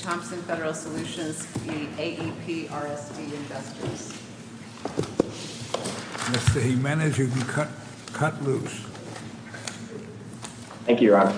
Thompson Federal Solutions v. AEP RSD Investors, Inc.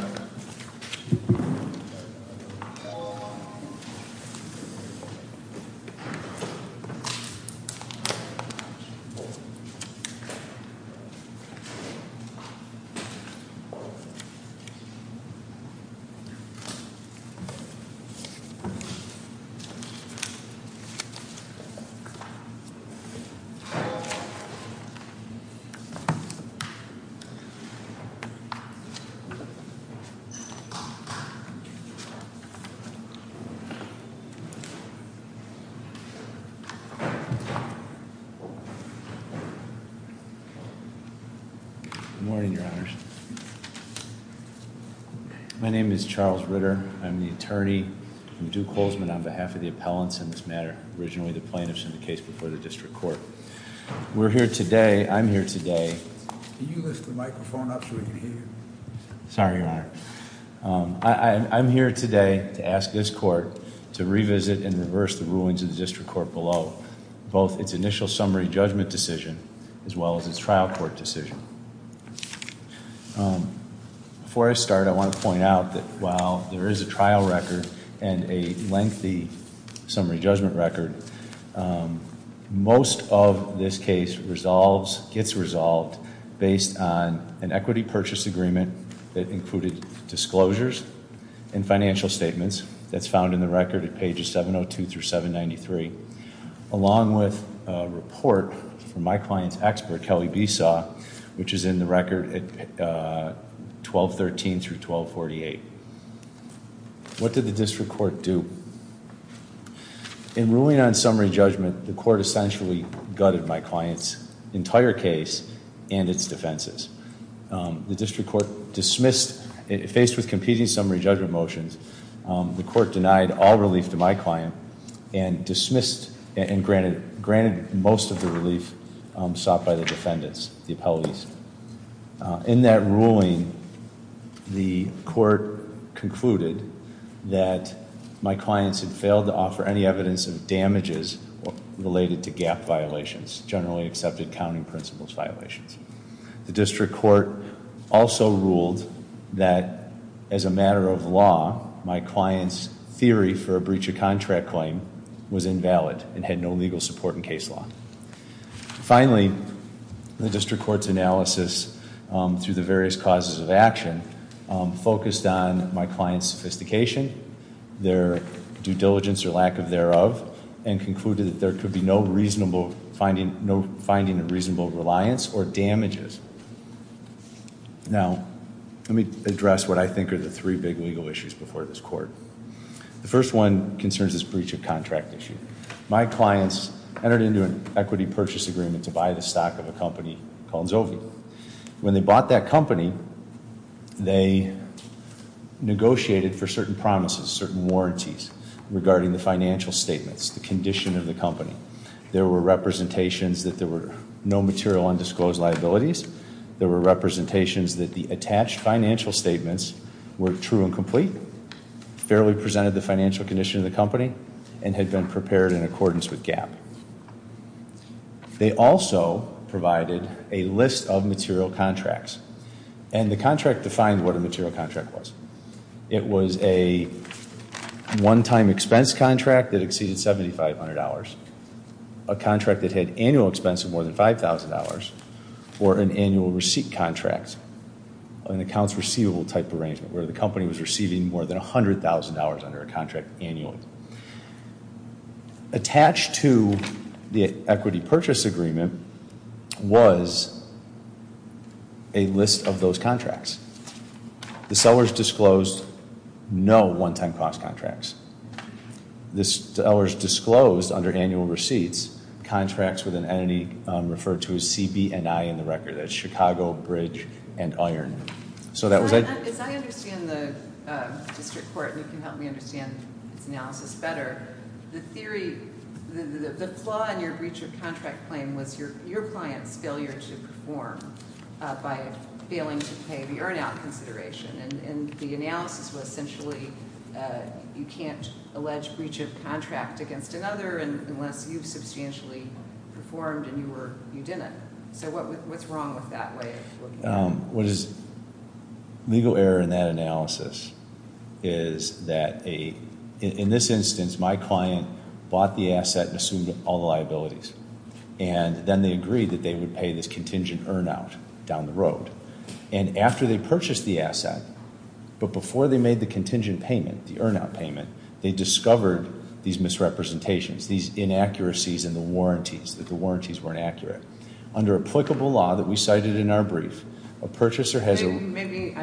Good morning, Your Honors. My name is Charles Ritter. I'm the attorney. I'm Duke Holzman on behalf of the appellants in this matter, originally the plaintiffs in the case before the district court. We're here today. I'm here today. Can you lift the microphone up so we can hear you? Sorry, Your Honor. I'm here today to ask this court to revisit and reverse the rulings of the district court below, both its initial summary judgment decision as well as its trial court decision. Before I start, I want to point out that while there is a trial record and a lengthy summary judgment record, most of this case resolves, gets resolved, based on an equity purchase agreement that included disclosures and financial statements that's found in the record at pages 702 through 793, along with a report from my client's expert, Kelly Besaw, which is in the record at 1213 through 1248. What did the district court do? In ruling on summary judgment, the court essentially gutted my client's entire case and its defenses. The district court dismissed, faced with competing summary judgment motions, the court denied all relief to my client and dismissed and granted most of the relief sought by the defendants, the appellees. In that ruling, the court concluded that my clients had failed to offer any evidence of damages related to gap violations, generally accepted counting principles violations. The district court also ruled that, as a matter of law, my client's theory for a breach of contract claim was invalid and had no legal support in case law. Finally, the district court's analysis, through the various causes of action, focused on my client's sophistication, their due diligence or lack of thereof, and concluded that there could be no finding of reasonable reliance or damages. Now, let me address what I think are the three big legal issues before this court. The first one concerns this breach of contract issue. My clients entered into an equity purchase agreement to buy the stock of a company called Zovio. When they bought that company, they negotiated for certain promises, certain warranties regarding the financial statements, the condition of the company. There were representations that there were no material undisclosed liabilities. There were representations that the attached financial statements were true and complete, fairly presented the financial condition of the company, and had been prepared in accordance with GAAP. They also provided a list of material contracts. And the contract defined what a material contract was. It was a one-time expense contract that exceeded $7,500, a contract that had annual expense of more than $5,000, or an annual receipt contract, an accounts receivable type arrangement, where the company was receiving more than $100,000 under a contract annually. Attached to the equity purchase agreement was a list of those contracts. The sellers disclosed no one-time cost contracts. The sellers disclosed under annual receipts contracts with an entity referred to as CBNI in the record. That's Chicago, Bridge, and Iron. As I understand the district court, and you can help me understand its analysis better, the theory, the flaw in your breach of contract claim was your client's failure to perform by failing to pay the earn-out consideration. And the analysis was essentially you can't allege breach of contract against another unless you've substantially performed and you didn't. What is legal error in that analysis is that in this instance, my client bought the asset and assumed all the liabilities. And then they agreed that they would pay this contingent earn-out down the road. And after they purchased the asset, but before they made the contingent payment, the earn-out payment, they discovered these misrepresentations, these inaccuracies in the warranties, that the warranties weren't accurate. Under applicable law that we cited in our brief, a purchaser has a- Maybe,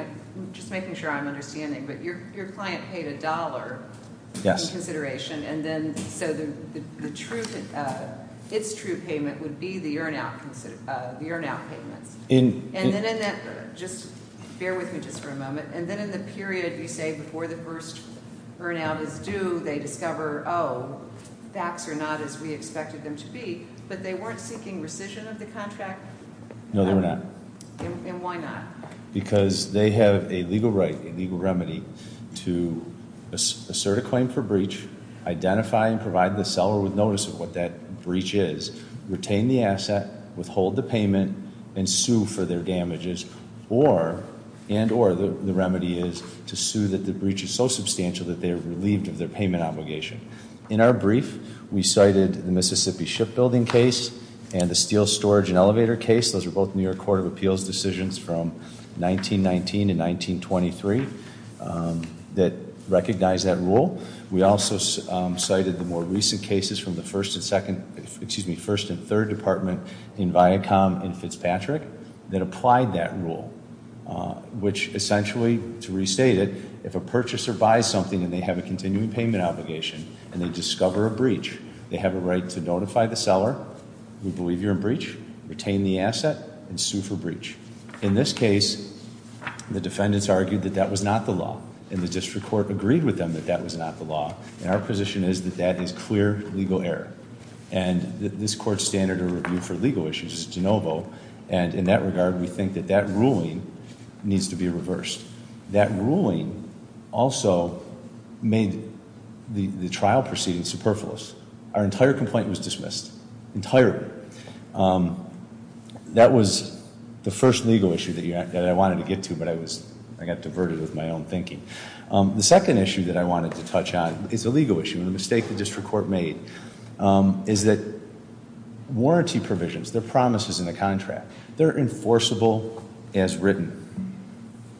just making sure I'm understanding, but your client paid a dollar in consideration, and then so the true, its true payment would be the earn-out payments. And then in that, just bear with me just for a moment, and then in the period you say before the first earn-out is due, they discover, oh, facts are not as we expected them to be, but they weren't seeking rescission of the contract? No, they were not. And why not? Because they have a legal right, a legal remedy to assert a claim for breach, identify and provide the seller with notice of what that breach is, retain the asset, withhold the payment, and sue for their damages, and or the remedy is to sue that the breach is so substantial that they are relieved of their payment obligation. In our brief, we cited the Mississippi Shipbuilding case and the Steel Storage and Elevator case. Those were both New York Court of Appeals decisions from 1919 to 1923 that recognized that rule. We also cited the more recent cases from the first and second, excuse me, first and third department in Viacom and Fitzpatrick that applied that rule, which essentially, to restate it, if a purchaser buys something and they have a continuing payment obligation and they discover a breach, they have a right to notify the seller, we believe you're in breach, retain the asset, and sue for breach. In this case, the defendants argued that that was not the law, and the district court agreed with them that that was not the law, and our position is that that is clear legal error. And in that regard, we think that that ruling needs to be reversed. That ruling also made the trial proceeding superfluous. Our entire complaint was dismissed. Entirely. That was the first legal issue that I wanted to get to, but I got diverted with my own thinking. The second issue that I wanted to touch on is a legal issue, and the mistake the district court made is that warranty provisions, their promises in the contract, they're enforceable as written,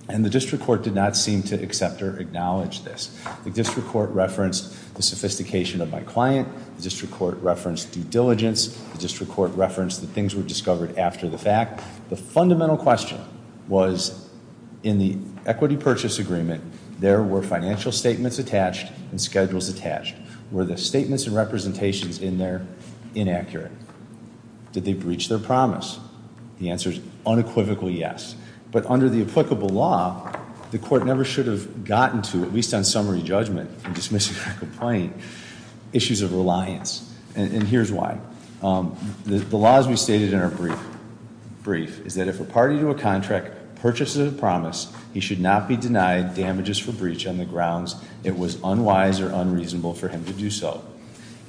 and the district court did not seem to accept or acknowledge this. The district court referenced the sophistication of my client. The district court referenced due diligence. The district court referenced that things were discovered after the fact. The fundamental question was in the equity purchase agreement, there were financial statements attached and schedules attached. Were the statements and representations in there inaccurate? Did they breach their promise? The answer is unequivocally yes. But under the applicable law, the court never should have gotten to, at least on summary judgment in dismissing my complaint, issues of reliance, and here's why. The laws we stated in our brief is that if a party to a contract purchases a promise, he should not be denied damages for breach on the grounds it was unwise or unreasonable for him to do so.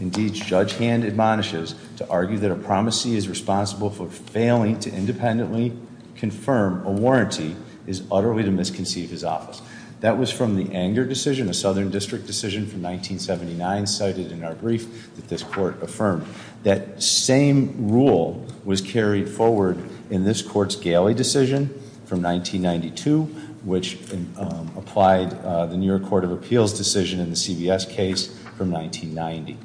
Indeed, Judge Hand admonishes to argue that a promisee is responsible for failing to independently confirm a warranty is utterly to misconceive his office. That was from the anger decision, a southern district decision from 1979 cited in our brief that this court affirmed. That same rule was carried forward in this court's galley decision from 1992, which applied the New York Court of Appeals decision in the CVS case from 1990.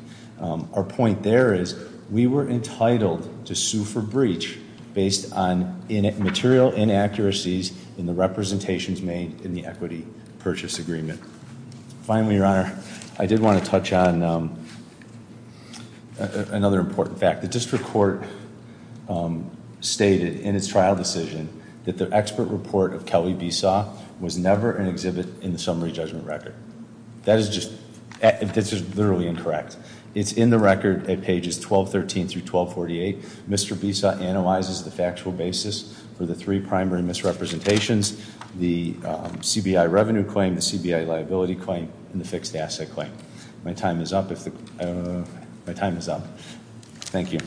Our point there is we were entitled to sue for breach based on material inaccuracies in the representations made in the equity purchase agreement. Finally, Your Honor, I did want to touch on another important fact. The district court stated in its trial decision that the expert report of Kelly Besaw was never an exhibit in the summary judgment record. That is just literally incorrect. It's in the record at pages 1213 through 1248. Mr. Besaw analyzes the factual basis for the three primary misrepresentations. The CBI revenue claim, the CBI liability claim, and the fixed asset claim. My time is up. My time is up. Thank you.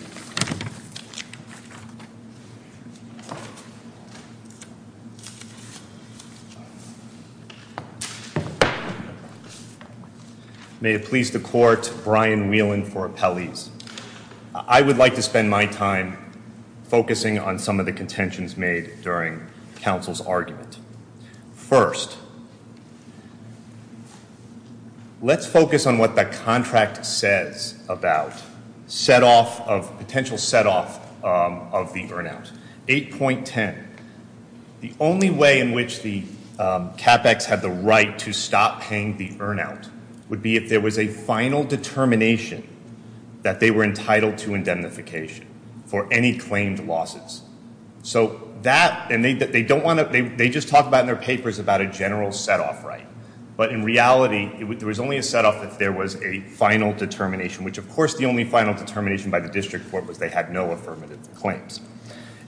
May it please the court, Brian Whelan for appellees. I would like to spend my time focusing on some of the contentions made during counsel's argument. First, let's focus on what the contract says about potential set off of the earn out. 8.10, the only way in which the CAPEX had the right to stop paying the earn out would be if there was a final determination that they were entitled to indemnification for any claimed losses. So that, and they don't want to, they just talk about in their papers about a general set off right. But in reality, there was only a set off if there was a final determination, which of course the only final determination by the district court was they had no affirmative claims.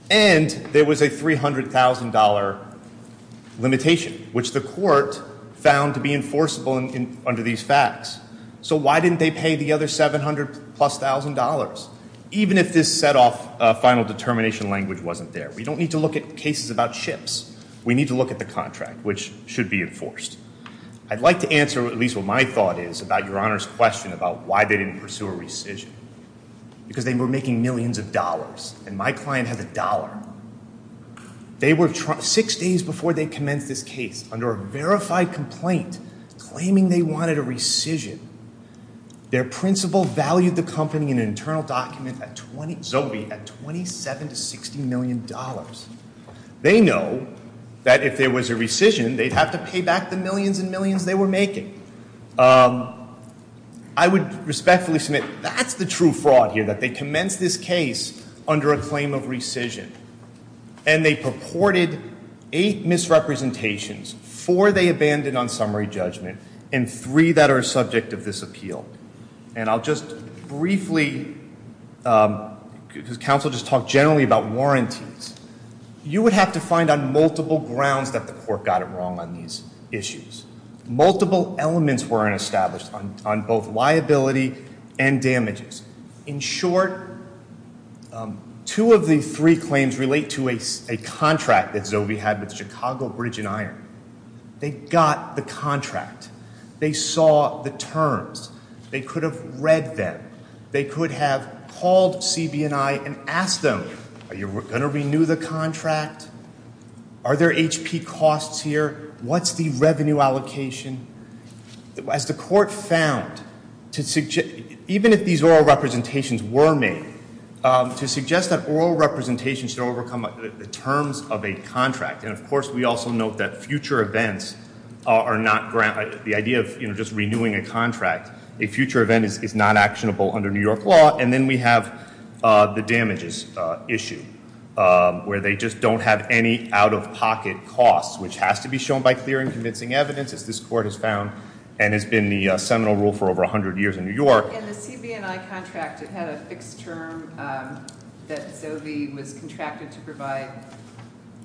And there was a $300,000 limitation, which the court found to be enforceable under these facts. So why didn't they pay the other 700 plus thousand dollars? Even if this set off final determination language wasn't there. We don't need to look at cases about ships. We need to look at the contract, which should be enforced. I'd like to answer at least what my thought is about Your Honor's question about why they didn't pursue a rescission. Because they were making millions of dollars, and my client has a dollar. They were, six days before they commenced this case, under a verified complaint claiming they wanted a rescission, their principal valued the company in an internal document at $27 to $60 million. They know that if there was a rescission, they'd have to pay back the millions and millions they were making. I would respectfully submit that's the true fraud here, that they commenced this case under a claim of rescission. And they purported eight misrepresentations. Four they abandoned on summary judgment, and three that are subject of this appeal. And I'll just briefly, because counsel just talked generally about warranties. You would have to find on multiple grounds that the court got it wrong on these issues. Multiple elements weren't established on both liability and damages. In short, two of the three claims relate to a contract that Zovey had with Chicago Bridge and Iron. They got the contract. They saw the terms. They could have read them. They could have called CB&I and asked them, are you going to renew the contract? Are there HP costs here? What's the revenue allocation? As the court found, even if these oral representations were made, to suggest that oral representations should overcome the terms of a contract. And of course, we also note that future events are not granted. The idea of just renewing a contract, a future event is not actionable under New York law. And then we have the damages issue, where they just don't have any out-of-pocket costs, which has to be shown by clear and convincing evidence, as this court has found, and has been the seminal rule for over 100 years in New York. In the CB&I contract, it had a fixed term that Zovey was contracted to provide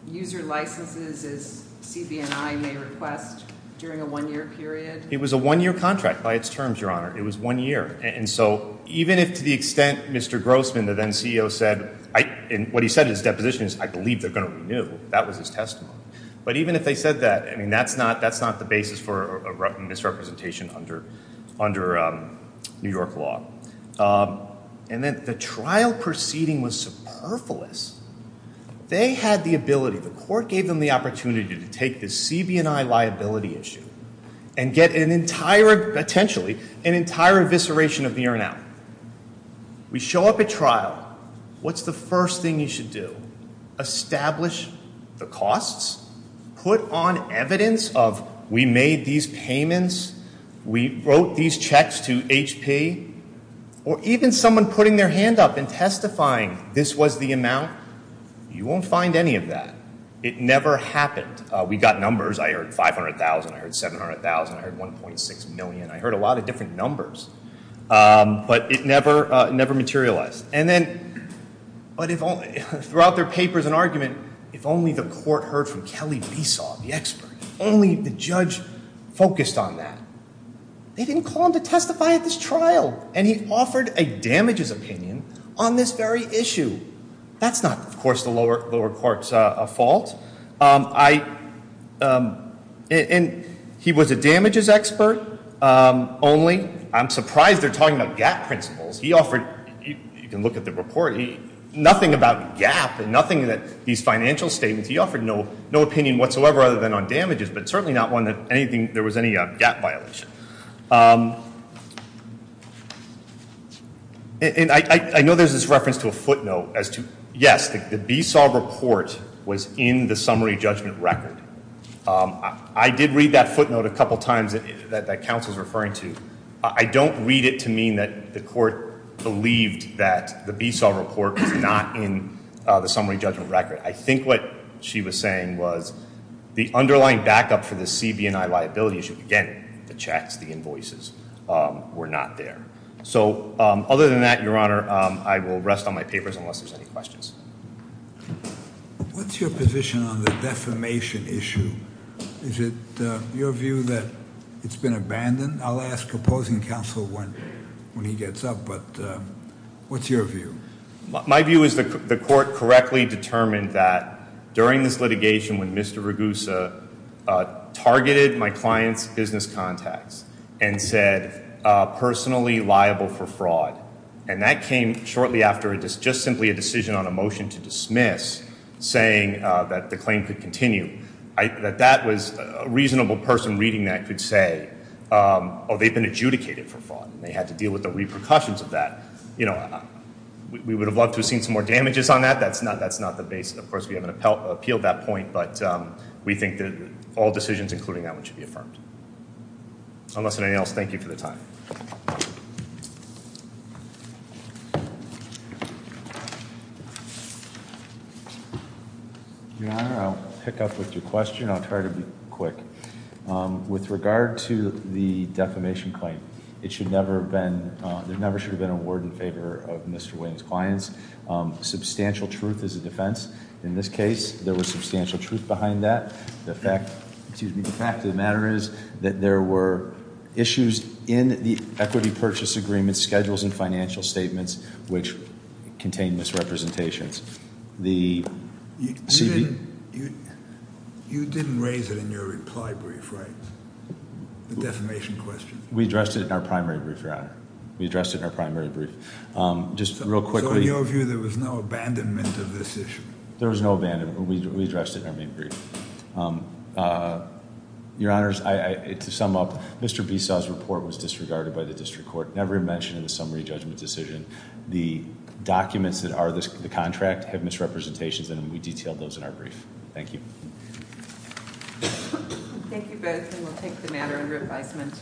user licenses, as CB&I may request, during a one-year period? It was a one-year contract by its terms, Your Honor. It was one year. And so even if to the extent Mr. Grossman, the then CEO, said, and what he said in his deposition is, I believe they're going to renew. That was his testimony. But even if they said that, I mean, that's not the basis for a misrepresentation under New York law. And then the trial proceeding was superfluous. They had the ability, the court gave them the opportunity to take this CB&I liability issue and get an entire, potentially, an entire evisceration of the urinal. We show up at trial. What's the first thing you should do? Establish the costs. Put on evidence of, we made these payments. We wrote these checks to HP. Or even someone putting their hand up and testifying this was the amount. You won't find any of that. It never happened. We got numbers. I heard 500,000. I heard 700,000. I heard 1.6 million. I heard a lot of different numbers. But it never materialized. But throughout their papers and argument, if only the court heard from Kelly Besaw, the expert, if only the judge focused on that. They didn't call him to testify at this trial. And he offered a damages opinion on this very issue. That's not, of course, the lower court's fault. He was a damages expert only. I'm surprised they're talking about GATT principles. He offered, you can look at the report, nothing about GATT and nothing that these financial statements. He offered no opinion whatsoever other than on damages, but certainly not one that there was any GATT violation. And I know there's this reference to a footnote as to, yes, the Besaw report was in the summary judgment record. I did read that footnote a couple times that counsel's referring to. I don't read it to mean that the court believed that the Besaw report was not in the summary judgment record. I think what she was saying was the underlying backup for the CB&I liability issue. Again, the checks, the invoices were not there. So other than that, Your Honor, I will rest on my papers unless there's any questions. What's your position on the defamation issue? Is it your view that it's been abandoned? I'll ask opposing counsel when he gets up, but what's your view? My view is the court correctly determined that during this litigation when Mr. Ragusa targeted my client's business contacts and said personally liable for fraud. And that came shortly after just simply a decision on a motion to dismiss saying that the claim could continue. That that was a reasonable person reading that could say, oh, they've been adjudicated for fraud. They had to deal with the repercussions of that. You know, we would have loved to have seen some more damages on that. That's not the base. Of course, we haven't appealed that point, but we think that all decisions including that one should be affirmed. Unless there's anything else, thank you for the time. Your Honor, I'll pick up with your question. I'll try to be quick. With regard to the defamation claim, it should never have been, there never should have been a word in favor of Mr. Williams' clients. Substantial truth is a defense. In this case, there was substantial truth behind that. The fact of the matter is that there were issues in the equity purchase agreement schedules and financial statements which contained misrepresentations. You didn't raise it in your reply brief, right, the defamation question? We addressed it in our primary brief, Your Honor. We addressed it in our primary brief. Just real quickly. So in your view, there was no abandonment of this issue? There was no abandonment. We addressed it in our main brief. Your Honors, to sum up, Mr. Besaw's report was disregarded by the district court, never mentioned in the summary judgment decision. The documents that are the contract have misrepresentations in them. We detailed those in our brief. Thank you. Thank you both, and we'll take the matter under advisement.